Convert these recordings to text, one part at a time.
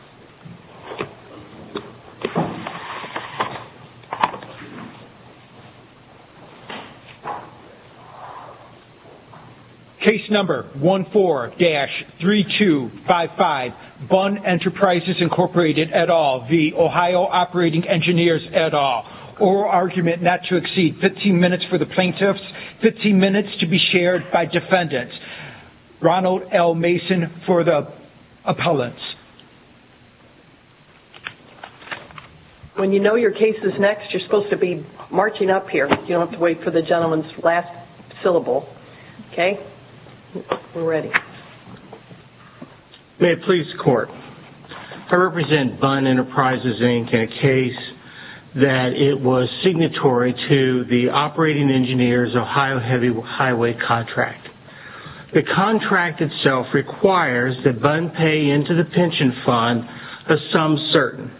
et al. Oral argument not to exceed 15 minutes for the plaintiffs, 15 minutes to be shared by defendants. Ronald L. Mason for the appellants. When you know your case is next, you're supposed to be marching up here. You don't have to wait for the gentleman's last syllable. Okay? We're ready. May it please the court. I represent Bunn Enterprises Inc. in a case that it was a contract. The contract itself requires that Bunn pay into the pension fund a sum certain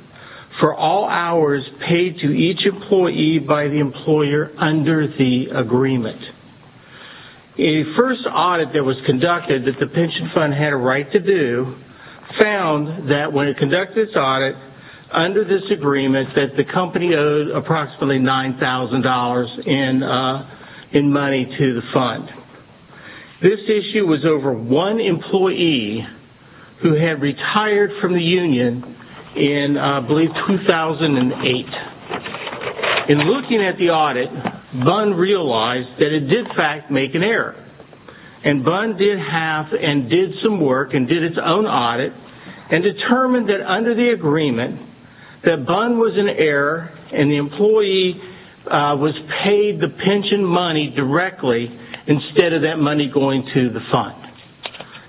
for all hours paid to each employee by the employer under the agreement. A first audit that was conducted that the pension fund had a right to do found that when it conducted its audit under this agreement that the company owed approximately $9,000 in money to the fund. This issue was over one employee who had retired from the union in, I believe, 2008. In looking at the audit, Bunn realized that it did, in fact, make an error. And Bunn did half and did some work and did its own audit and determined that under the agreement that Bunn was in error and the employee was paid the pension money directly instead of that money going to the fund.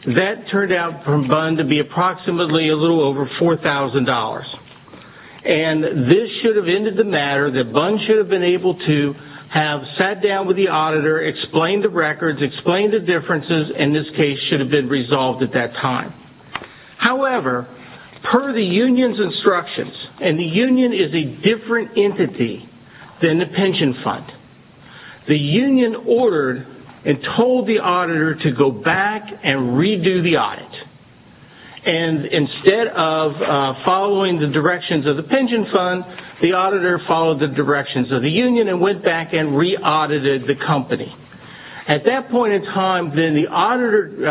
That turned out for Bunn to be approximately a little over $4,000. And this should have ended the matter that Bunn should have been able to have sat down with the auditor, explained the records, explained the differences, and followed the union's instructions. And the union is a different entity than the pension fund. The union ordered and told the auditor to go back and redo the audit. And instead of following the directions of the pension fund, the auditor followed the directions of the union and went back and re-audited the company. At that point in time, then the $1,000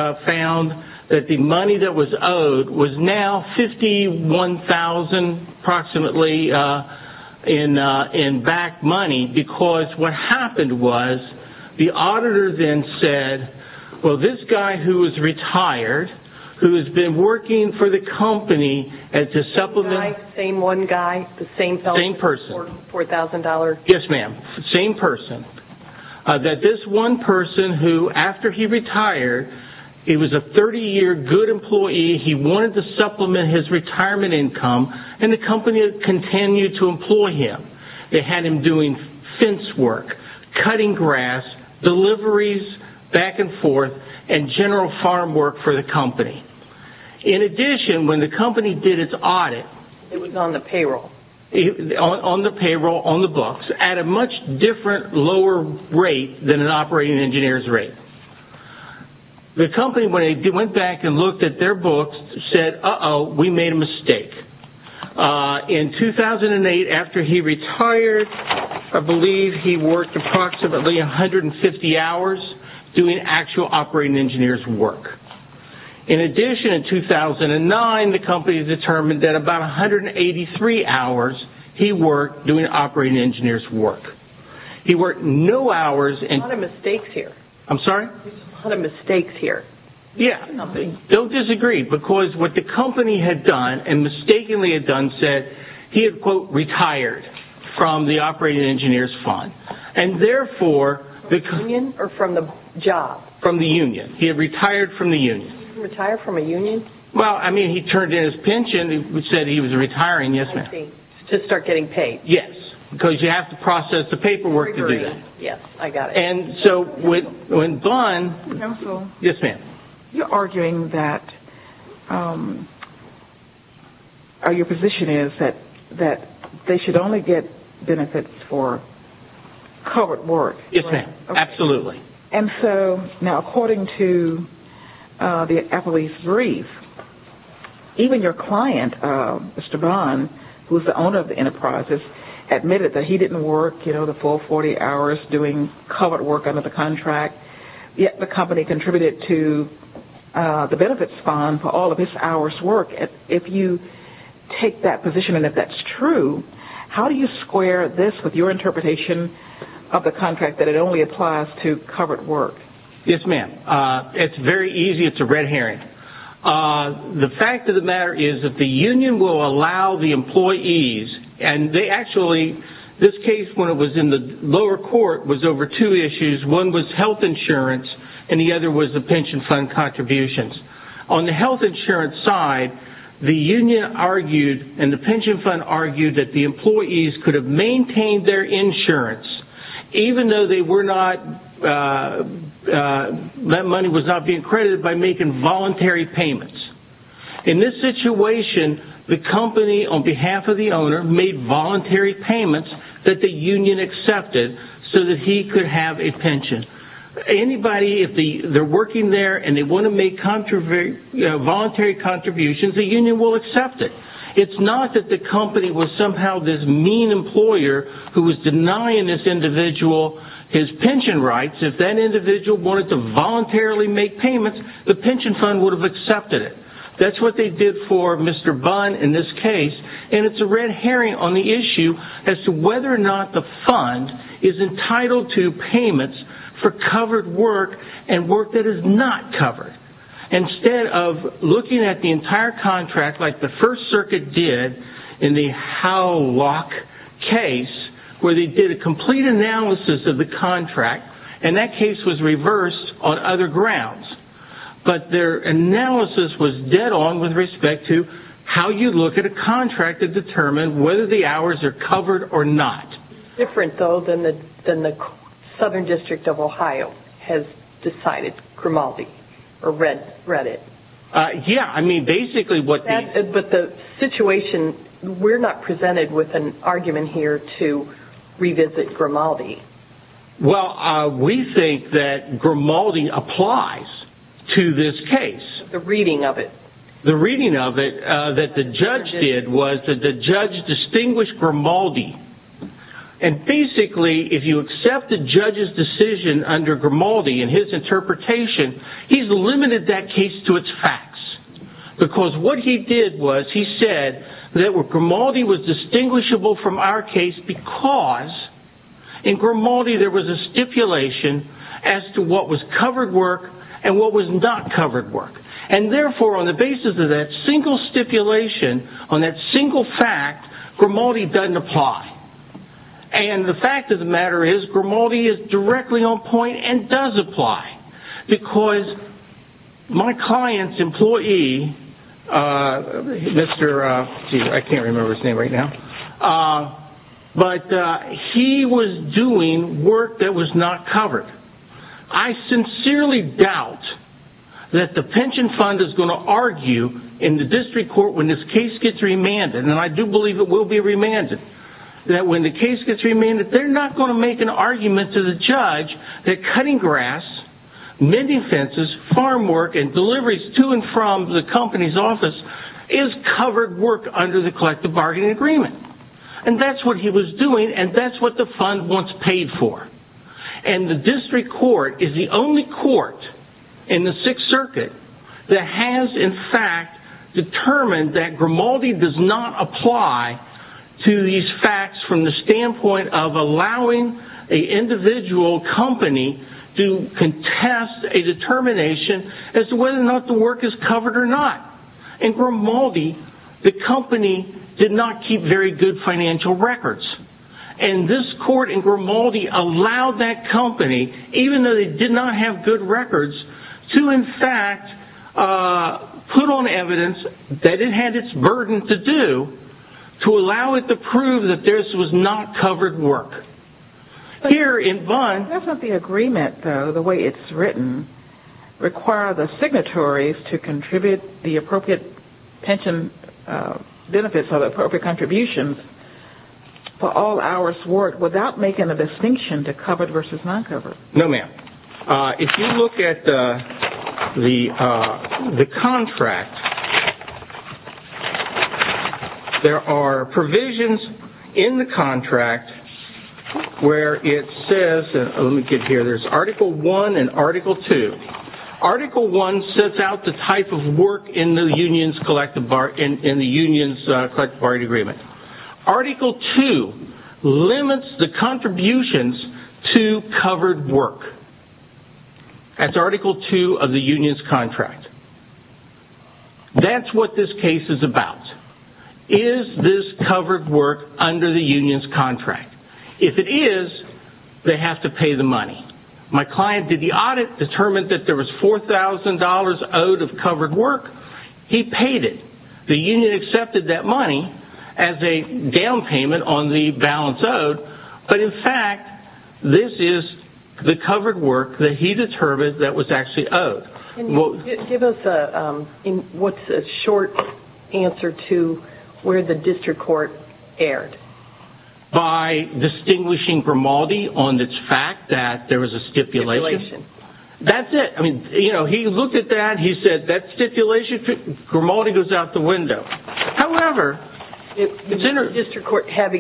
approximately in back money, because what happened was the auditor then said, well, this guy who is retired, who has been working for the company to supplement... The same guy? The same one guy? The same person? The same person. $4,000? Yes, ma'am. The same person. That this one person who, after he retired, he was a 30-year good employee, he wanted to supplement his retirement income, and the company continued to employ him. They had him doing fence work, cutting grass, deliveries back and forth, and general farm work for the company. In addition, when the company did its audit... It was on the payroll. On the payroll, on the books, at a much different lower rate than an operating engineer's rate. The company, when they went back and looked at their books, said, uh-oh, we made a mistake. In 2008, after he retired, I believe he worked approximately 150 hours doing actual operating engineers' work. In addition, in 2009, the company determined that about 183 hours he worked doing operating engineers' work. He worked no hours and... A lot of mistakes here. I'm sorry? There's a lot of mistakes here. Yeah. Don't disagree, because what the company had done, and mistakenly had done, said he had, quote, retired from the operating engineer's fund, and therefore... From the union, or from the job? From the union. He had retired from the union. Retired from a union? Well, I mean, he turned in his pension. He said he was retiring. Yes, ma'am. I see. To start getting paid. Yes, because you have to process the paperwork to do that. Yes, I got it. So when Vaughn... Counsel? Yes, ma'am? You're arguing that... Your position is that they should only get benefits for covered work. Yes, ma'am. Absolutely. Now, according to the Applebee's brief, even your client, Mr. Vaughn, who's the owner of Yes, ma'am. It's very easy. It's a red herring. The fact of the matter is that the union will allow the employees, and they actually... One was health insurance, and the other was the pension fund contributions. On the health insurance side, the union argued, and the pension fund argued, that the employees could have maintained their insurance, even though they were not... That money was not being credited by making voluntary payments. In this situation, the company, on behalf of the owner, made voluntary payments that the union accepted so that he could have a pension. Anybody, if they're working there and they want to make voluntary contributions, the union will accept it. It's not that the company was somehow this mean employer who was denying this individual his pension rights. If that individual wanted to voluntarily make payments, the pension fund would have accepted it. That's what they did for Mr. Vaughn in this case, and it's a red herring on the issue as to whether or not the fund is entitled to payments for covered work and work that is not covered. Instead of looking at the entire contract like the First Circuit did in the Howlock case, where they did a complete analysis of the contract, and that case was reversed on other grounds, but their analysis was dead on with respect to how you look at a contract to determine whether the hours are covered or not. It's different, though, than the Southern District of Ohio has decided, Grimaldi, or read it. Yeah, I mean, basically what they... But the situation, we're not presented with an argument here to revisit Grimaldi. Well, we think that Grimaldi applies to this case. The reading of it. The reading of it that the judge did was that the judge distinguished Grimaldi. And basically, if you accept the judge's decision under Grimaldi and his interpretation, he's limited that case to its facts. Because what he did was he said that Grimaldi was distinguishable from our case because in Grimaldi, there was a stipulation as to what was covered work and what was not covered work. And therefore, on the basis of that single stipulation, on that single fact, Grimaldi doesn't apply. And the fact of the matter is Grimaldi is directly on point and does apply. Because my client's employee, Mr... I can't remember his name right now. But he was doing work that was not covered. I sincerely doubt that the pension fund is going to argue in the district court when this case gets remanded. And I do believe it will be remanded. That when the case gets remanded, they're not going to make an argument to the judge that cutting grass, mending fences, farm work, and deliveries to and from the company's office is covered work under the collective bargaining agreement. And that's what he was doing. And that's what the fund once paid for. And the district court is the only court in the Sixth Circuit that has, in fact, determined that Grimaldi does not apply to these facts from the standpoint of allowing an individual company to contest a determination as to whether or not the work is covered or not. In Grimaldi, the company did not keep very good financial records. And this court in Grimaldi allowed that company, even though they did not have good records, to, in fact, put on evidence that it had its burden to do to allow it to prove that this was not covered work. Here in... That's not the agreement, though. The way it's written, require the signatories to contribute the appropriate pension benefits or the appropriate contributions for all hours worked without making a distinction to covered versus non-covered. No, ma'am. If you look at the contract, there are provisions in the contract where it says, let me get Article 1 and Article 2. Article 1 sets out the type of work in the union's collective bargaining agreement. Article 2 limits the contributions to covered work. That's Article 2 of the union's contract. That's what this case is about. Is this covered work under the union's contract? If it is, they have to pay the money. My client did the audit, determined that there was $4,000 owed of covered work. He paid it. The union accepted that money as a down payment on the balance owed, but, in fact, this is the covered work that he determined that was actually owed. Can you give us a short answer to where the district court erred? By distinguishing Grimaldi on the fact that there was a stipulation? That's it. He looked at that. He said that stipulation, Grimaldi goes out the window. However, the district court, had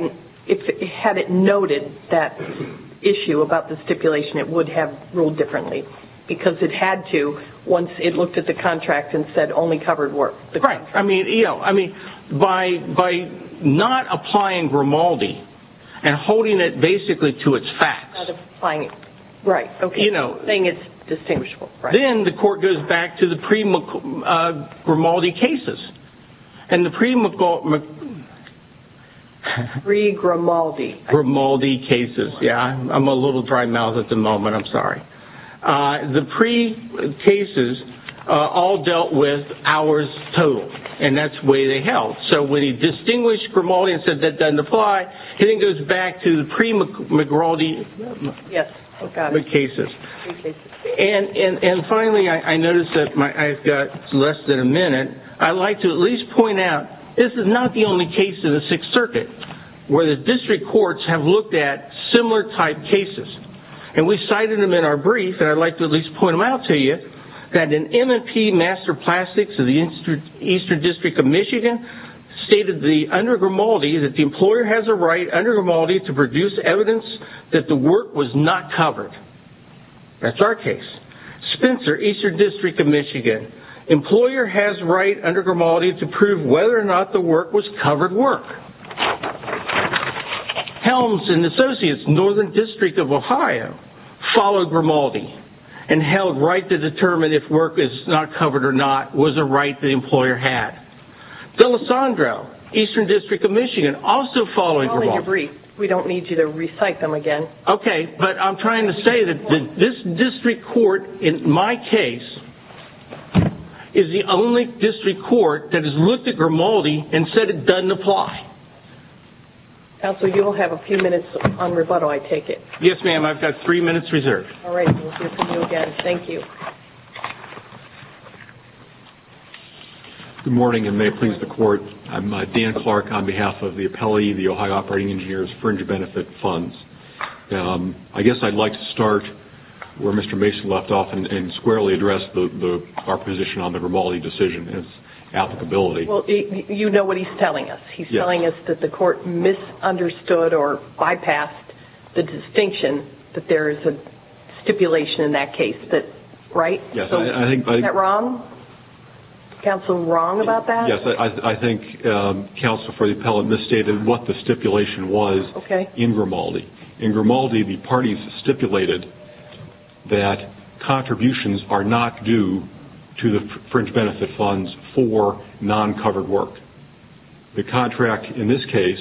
it noted that issue about the stipulation, it would have ruled differently because it had to once it looked at the contract and said only covered work. I mean, by not applying Grimaldi and holding it basically to its facts, then the court goes back to the pre-Grimaldi cases. The pre-Grimaldi cases. I'm a little dry mouthed at the moment. I'm sorry. The pre-cases all dealt with hours total. That's the way they held. So, when he distinguished Grimaldi and said that doesn't apply, he goes back to the pre-Grimaldi cases. Finally, I noticed that I've got less than a minute. I'd like to at least point out, this is not the only case in the Sixth Circuit where the district courts have looked at similar type cases. And we cited them in our brief and I'd like to at least point them out to you that an MMP Master Plastics of the Eastern District of Michigan stated the under Grimaldi that the employer has a right under Grimaldi to produce evidence that the work was not covered. That's our case. Spencer, Eastern District of Michigan. Employer has right under Grimaldi to prove whether or not the work was covered work. Helms and Associates, Northern District of Ohio, followed Grimaldi and held right to determine if work is not covered or not was a right the employer had. D'Alessandro, Eastern District of Michigan, also followed Grimaldi. We don't need you to recite them again. Okay, but I'm trying to say that this district court, in my case, is the only district court that has looked at Grimaldi and said it doesn't apply. Counsel, you will have a few minutes on rebuttal, I take it. Yes, ma'am. I've got three minutes reserved. All right, we'll hear from you again. Thank you. Good morning and may it please the Court. I'm Dan Clark on behalf of the Appellee, the Ohio Operating Engineers, fringe benefit funds. I guess I'd like to start where Mr. Mason left off and squarely address our position on the Grimaldi decision and its applicability. Well, you know what he's telling us. He's telling us that the court misunderstood or bypassed the distinction that there is a stipulation in that case, right? Yes. Is that wrong? Counsel, wrong about that? Yes, I think counsel for the appellate misstated what the stipulation was in Grimaldi. In Grimaldi, the parties stipulated that contributions are not due to the fringe benefit funds for non-covered work. The contract in this case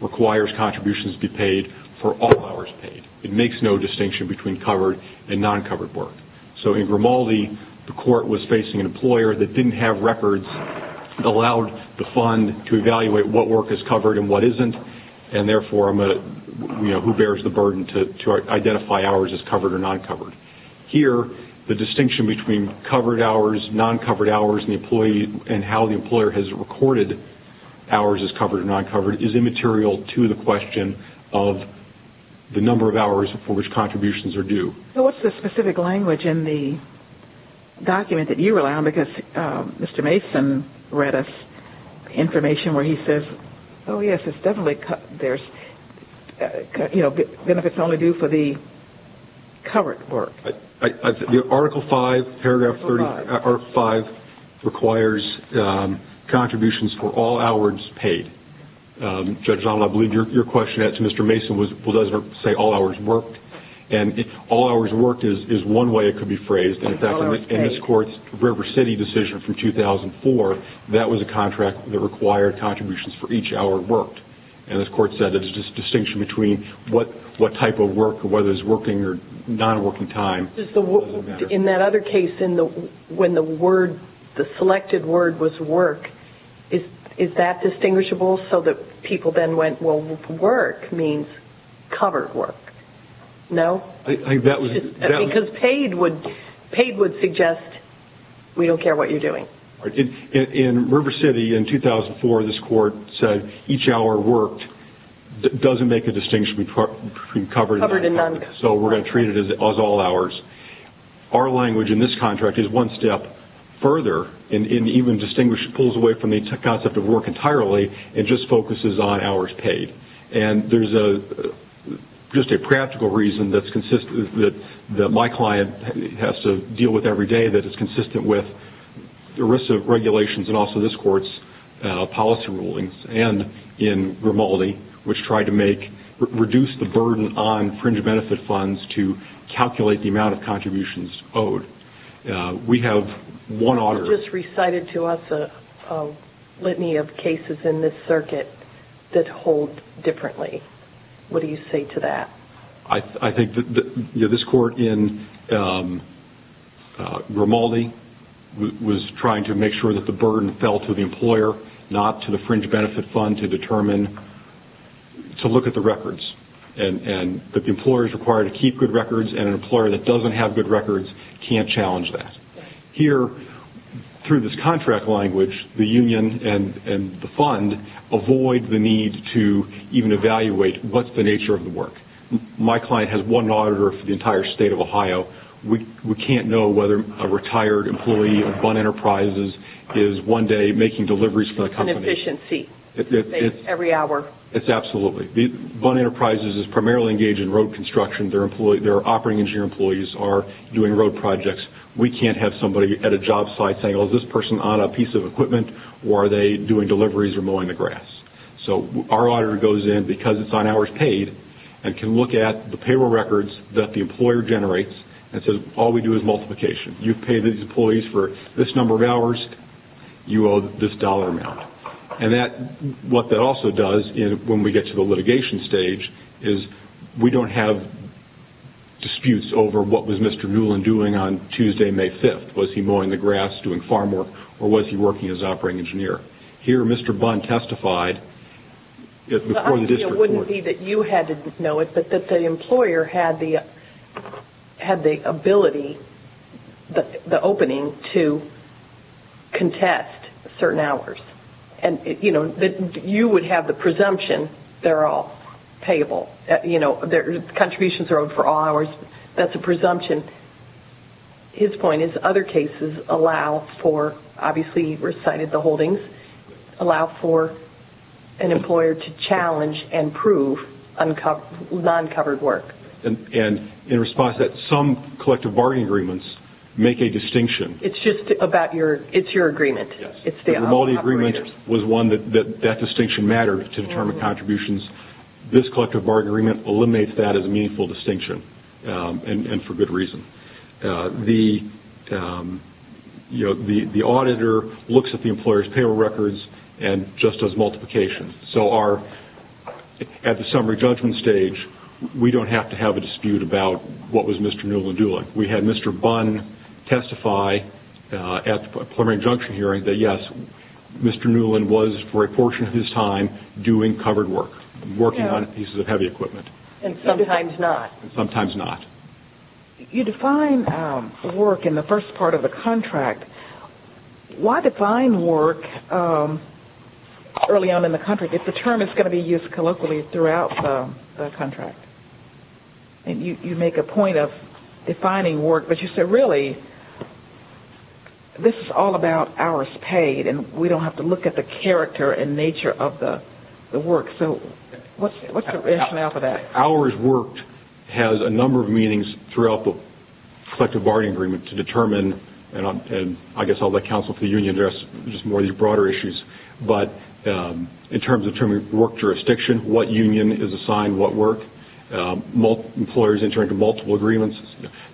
requires contributions be paid for all hours paid. It makes no distinction between covered and non-covered work. So in Grimaldi, the court was facing an employer that didn't have records, allowed the fund to evaluate what work is covered and what isn't, and therefore who bears the burden to identify hours as covered or non-covered. Here, the distinction between covered hours, non-covered hours, and how the employer has recorded hours as covered or non-covered is immaterial to the question of the number of hours for which contributions are due. What's the specific language in the document that you rely on? Mr. Mason read us information where he says, oh yes, there's benefits only due for the covered work. Article 5, paragraph 5, requires contributions for all hours paid. Judge Donald, I believe your question to Mr. Mason does say all hours worked. All hours worked is one way it could be phrased. In this court's River City decision from 2004, that was a contract that required contributions for each hour worked. And this court said it's just a distinction between what type of work, whether it's working or non-working time. In that other case, when the word, the selected word was work, is that distinguishable? So that people then went, well, work means covered work. No? I think that was- Because paid would suggest, we don't care what you're doing. In River City, in 2004, this court said each hour worked doesn't make a distinction between covered and non-covered. So we're going to treat it as all hours. Our language in this contract is one step further, and even distinguishes, pulls away from the concept of work entirely, and just focuses on hours paid. And there's just a practical reason that my client has to deal with every day that is consistent with ERISA regulations, and also this court's policy rulings. And in Grimaldi, which tried to reduce the burden on fringe benefit funds to calculate the amount of contributions owed. We have one order- A litany of cases in this circuit that hold differently. What do you say to that? I think that this court in Grimaldi was trying to make sure that the burden fell to the employer, not to the fringe benefit fund, to determine- to look at the records. And that the employer is required to keep good records, and an employer that doesn't have good records can't challenge that. Here, through this contract language, the union and the fund avoid the need to even evaluate what's the nature of the work. My client has one auditor for the entire state of Ohio. We can't know whether a retired employee of BUN Enterprises is one day making deliveries for the company- An efficiency. Every hour. It's absolutely. BUN Enterprises is primarily engaged in road construction. Their operating engineer employees are doing road projects. We can't have somebody at a job site saying, well, is this person on a piece of equipment, or are they doing deliveries or mowing the grass? So our auditor goes in, because it's on hours paid, and can look at the payroll records that the employer generates and says, all we do is multiplication. You've paid these employees for this number of hours, you owe this dollar amount. And what that also does, when we get to the litigation stage, is we don't have disputes over what was Mr. Newland doing on Tuesday, May 5th. Was he mowing the grass, doing farm work, or was he working as an operating engineer? Here, Mr. BUN testified before the district court- The idea wouldn't be that you had to know it, but that the employer had the ability, the opening, to contest certain hours. You would have the presumption they're all payable. You know, contributions are owed for all hours. That's a presumption. His point is other cases allow for, obviously you recited the holdings, allow for an employer to challenge and prove non-covered work. And in response to that, some collective bargaining agreements make a distinction. It's just about your, it's your agreement. Yes, the remodeling agreement was one that that distinction mattered to determine contributions. This collective bargaining agreement eliminates that as a meaningful distinction, and for good reason. The auditor looks at the employer's payable records and just does multiplication. So our, at the summary judgment stage, we don't have to have a dispute about what was Mr. Newland doing. We had Mr. BUN testify at the preliminary injunction hearing that yes, Mr. Newland was, for a portion of his time, doing covered work. Working on pieces of heavy equipment. And sometimes not. Sometimes not. You define work in the first part of the contract. Why define work early on in the contract if the term is going to be used colloquially throughout the contract? And you make a point of defining work, but you say really, this is all about hours paid and we don't have to look at the character and nature of the work. So what's the rationale for that? Hours worked has a number of meanings throughout the collective bargaining agreement to determine, and I guess I'll let counsel for the union address just more of these broader issues, but in terms of terming work jurisdiction, what union is assigned what work. Employers enter into multiple agreements.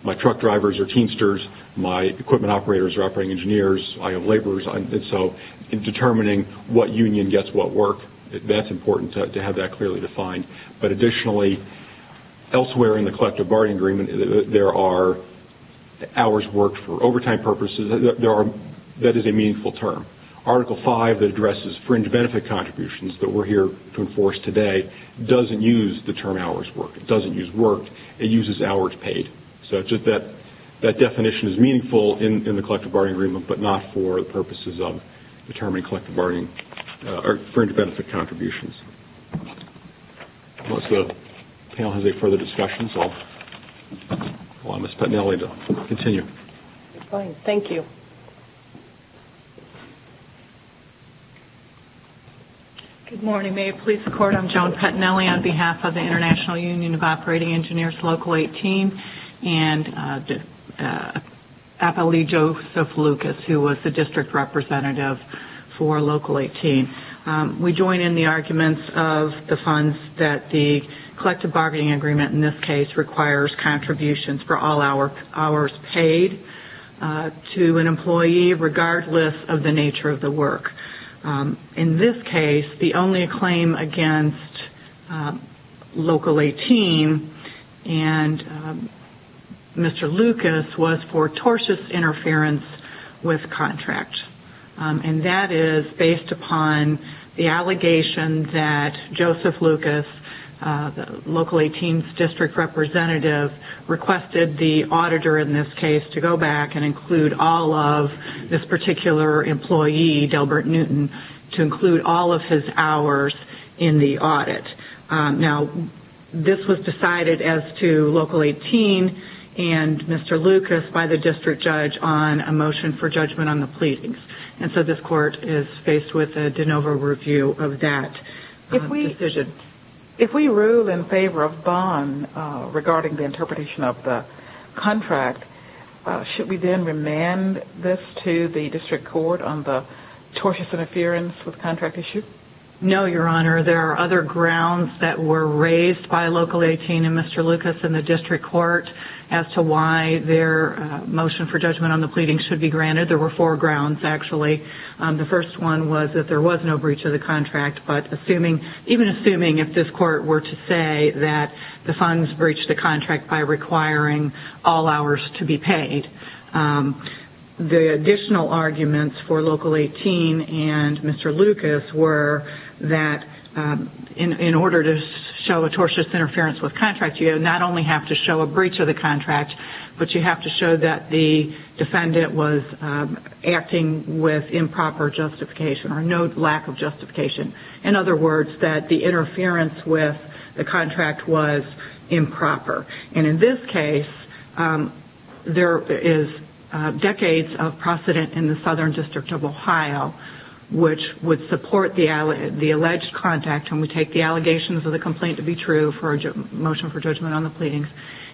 My truck drivers are teamsters. My equipment operators are operating engineers. I have laborers. So in determining what union gets what work, that's important to have that clearly defined. But additionally, elsewhere in the collective bargaining agreement, there are hours worked for overtime purposes. That is a meaningful term. Article 5 that addresses fringe benefit contributions that we're here to enforce today doesn't use the term hours worked. It doesn't use worked. It uses hours paid. So that definition is meaningful in the collective bargaining agreement, but not for the purposes of determining collective bargaining or fringe benefit contributions. Unless the panel has any further discussions, I'll allow Ms. Petinelli to continue. Fine. Thank you. Good morning. May it please the court, I'm Joan Petinelli on behalf of the International Union of Operating for Local 18. We join in the arguments of the funds that the collective bargaining agreement in this case requires contributions for all hours paid to an employee regardless of the nature of the work. In this case, the only claim against Local 18 and Mr. Lucas was for tortious interference with contract. And that is based upon the allegation that Joseph Lucas, Local 18's district representative, requested the auditor in this case to go back and include all of this particular employee, Delbert Newton, to include all of his hours in the audit. Now, this was decided as to Local 18 and Mr. Lucas by the district judge on a motion for judgment on the pleadings. So this court is faced with a de novo review of that decision. If we rule in favor of bond regarding the interpretation of the contract, should we then remand this to the district court on the tortious interference with contract issue? No, Your Honor. There are other grounds that were raised by Local 18 and Mr. Lucas in the district court as to why their motion for judgment on the pleadings should be granted. There were four grounds, actually. The first one was that there was no breach of the contract. But even assuming if this court were to say that the funds breached the contract by requiring all hours to be paid, the additional arguments for Local 18 and Mr. Lucas were that in order to show a tortious interference with contract, you not only have to show a breach of the contract, but you also have to show acting with improper justification or no lack of justification. In other words, that the interference with the contract was improper. And in this case, there is decades of precedent in the Southern District of Ohio, which would support the alleged contact. And we take the allegations of the complaint to be true for a motion for judgment on the pleadings.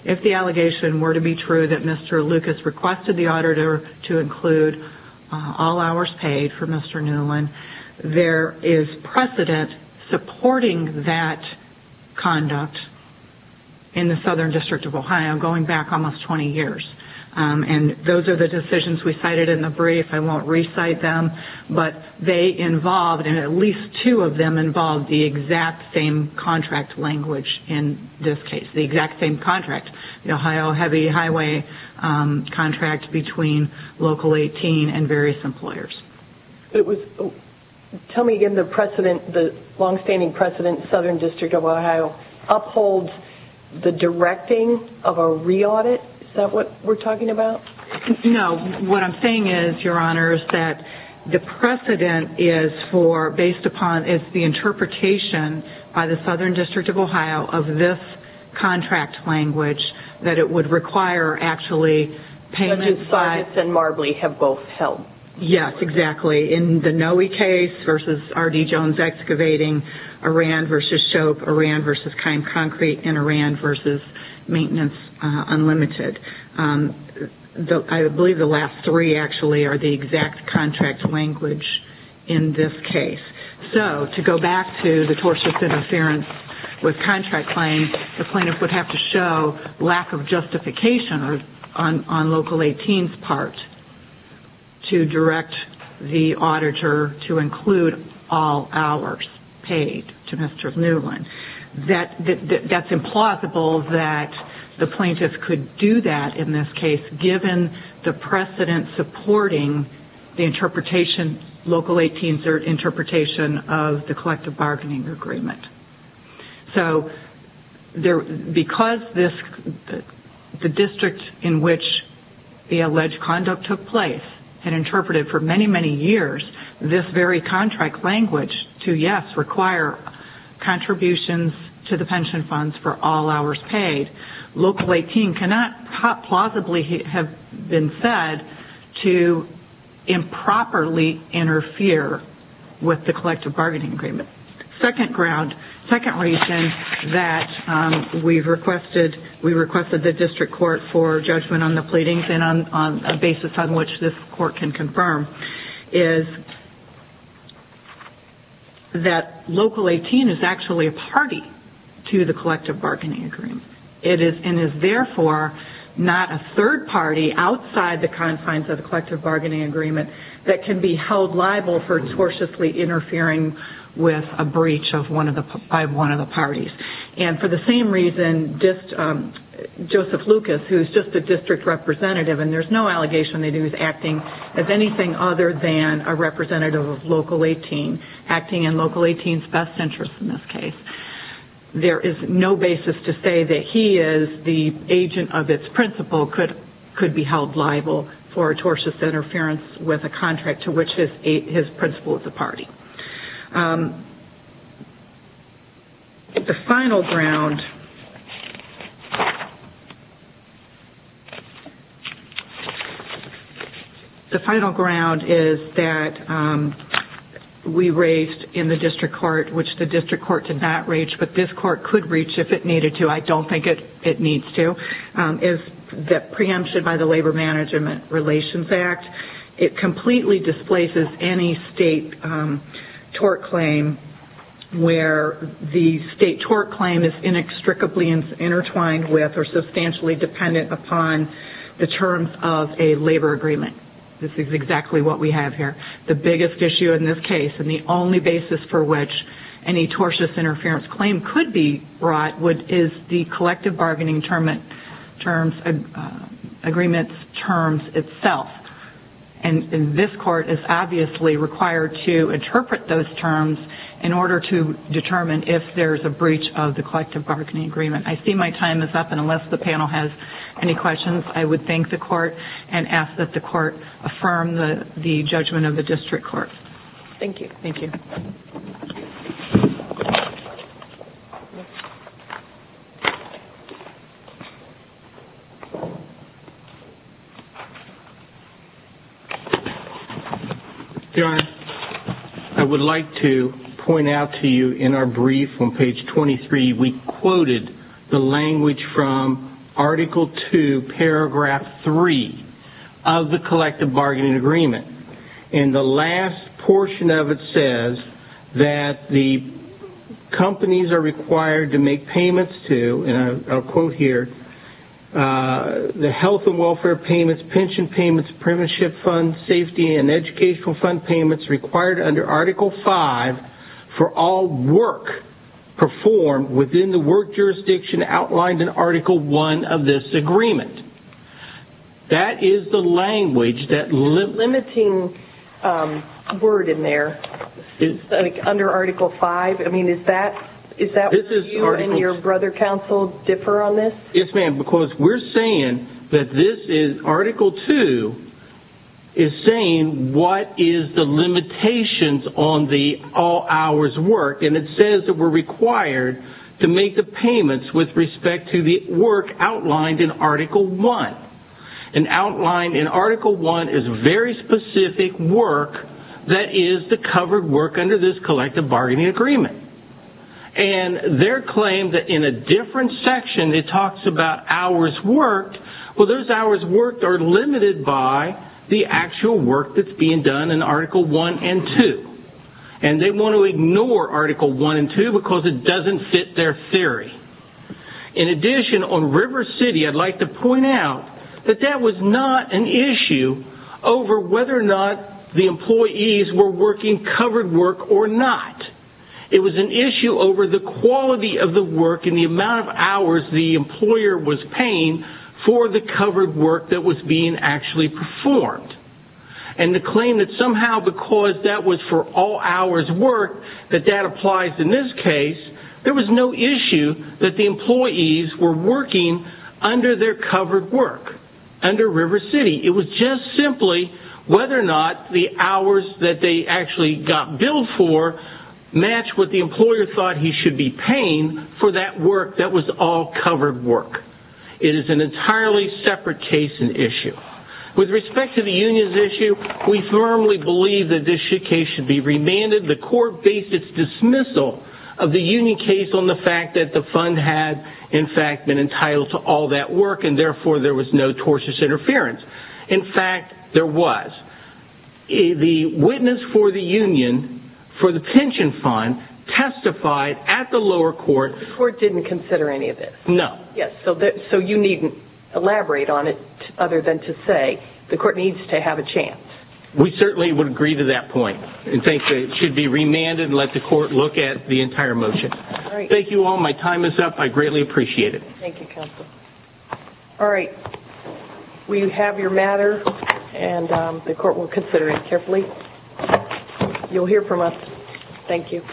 If the allegation were to be true that Mr. Lucas requested the auditor to include all hours paid for Mr. Newlin, there is precedent supporting that conduct in the Southern District of Ohio going back almost 20 years. And those are the decisions we cited in the brief. I won't recite them. But they involved, and at least two of them involved, the exact same contract language in this case. The exact same contract. The Ohio heavy highway contract between Local 18 and various employers. Tell me again, the precedent, the long-standing precedent, Southern District of Ohio upholds the directing of a re-audit? Is that what we're talking about? No. What I'm saying is, Your Honors, that the precedent is for, based upon, is the interpretation by the Southern District of Ohio of this contract language, that it would require, actually, payment by... And then Saunders and Marbley have both held. Yes, exactly. In the Noe case versus R.D. Jones Excavating, Oran versus Shope, Oran versus Keim Concrete, and Oran versus Maintenance Unlimited. I believe the last three, actually, are the exact contract language in this case. So, to go back to the tortious interference with contract claims, the plaintiff would have to show lack of justification on Local 18's part to direct the auditor to include all hours paid to Mr. Newland. That's implausible that the plaintiff could do that in this case, given the precedent supporting the interpretation, Local 18's interpretation, of the collective bargaining agreement. So, because the district in which the alleged conduct took place had interpreted, for many, many years, this very contract language to, yes, require contributions to the pension funds for all hours paid, Local 18 cannot plausibly have been said to improperly interfere with the collective bargaining agreement. Second ground, second reason that we requested the district court for judgment on the pleadings and on a basis on which this court can confirm is that Local 18 is actually a party to the collective bargaining agreement. It is, and is therefore, not a third party outside the confines of the collective bargaining agreement that can be held liable for tortiously interfering with a breach by one of the parties. And for the same reason, Joseph Lucas, who's just a district representative, and there's no allegation that he was acting as anything other than a representative of Local 18, acting in Local 18's best interest in this case. There is no basis to say that he is the agent of its principle could be held liable for tortious interference with a contract to which his principle is a party. The final ground is that we raised in the district court, which the district court did not reach, but this court could reach if it needed to. I don't think it needs to, is that preemption by the Labor Management Relations Act, it is a tort claim where the state tort claim is inextricably intertwined with or substantially dependent upon the terms of a labor agreement. This is exactly what we have here. The biggest issue in this case, and the only basis for which any tortious interference claim could be brought, is the collective bargaining agreement's terms itself. And this court is obviously required to interpret those terms in order to determine if there's a breach of the collective bargaining agreement. I see my time is up, and unless the panel has any questions, I would thank the court and ask that the court affirm the judgment of the district court. Thank you. Thank you. Your Honor, I would like to point out to you in our brief on page 23, we quoted the language from Article 2, Paragraph 3 of the collective bargaining agreement. In the last portion of it says that the companies are required to make payments to, and I'll quote, the partnership fund safety and educational fund payments required under Article 5 for all work performed within the work jurisdiction outlined in Article 1 of this agreement. That is the language that limits... There's a limiting word in there, like under Article 5. I mean, is that what you and your brother counsel differ on this? Yes, ma'am, because we're saying that this is Article 2 is saying what is the limitations on the all-hours work, and it says that we're required to make the payments with respect to the work outlined in Article 1. And outlined in Article 1 is very specific work that is the covered work under this collective bargaining agreement. And their claim that in a different section it talks about hours worked, well, those hours worked are limited by the actual work that's being done in Article 1 and 2. And they want to ignore Article 1 and 2 because it doesn't fit their theory. In addition, on River City, I'd like to point out that that was not an issue over whether or not the employees were working covered work or not. It was an issue over the quality of the work and the amount of hours the employer was paying for the covered work that was being actually performed. And the claim that somehow because that was for all-hours work, that that applies in this case, there was no issue that the employees were working under their covered work, under River City. It was just simply whether or not the hours that they actually got billed for matched what the employer thought he should be paying for that work that was all covered work. It is an entirely separate case and issue. With respect to the union's issue, we firmly believe that this case should be remanded. The court based its dismissal of the union case on the fact that the fund had, in fact, been entitled to all that work, and therefore there was no tortious interference. In fact, there was. The witness for the union for the pension fund testified at the lower court. The court didn't consider any of this? No. Yes, so you needn't elaborate on it other than to say the court needs to have a chance. We certainly would agree to that point and think that it should be remanded and let the court look at the entire motion. Thank you all. My time is up. I greatly appreciate it. Thank you, counsel. All right. We have your matter and the court will consider it carefully. You'll hear from us. Thank you.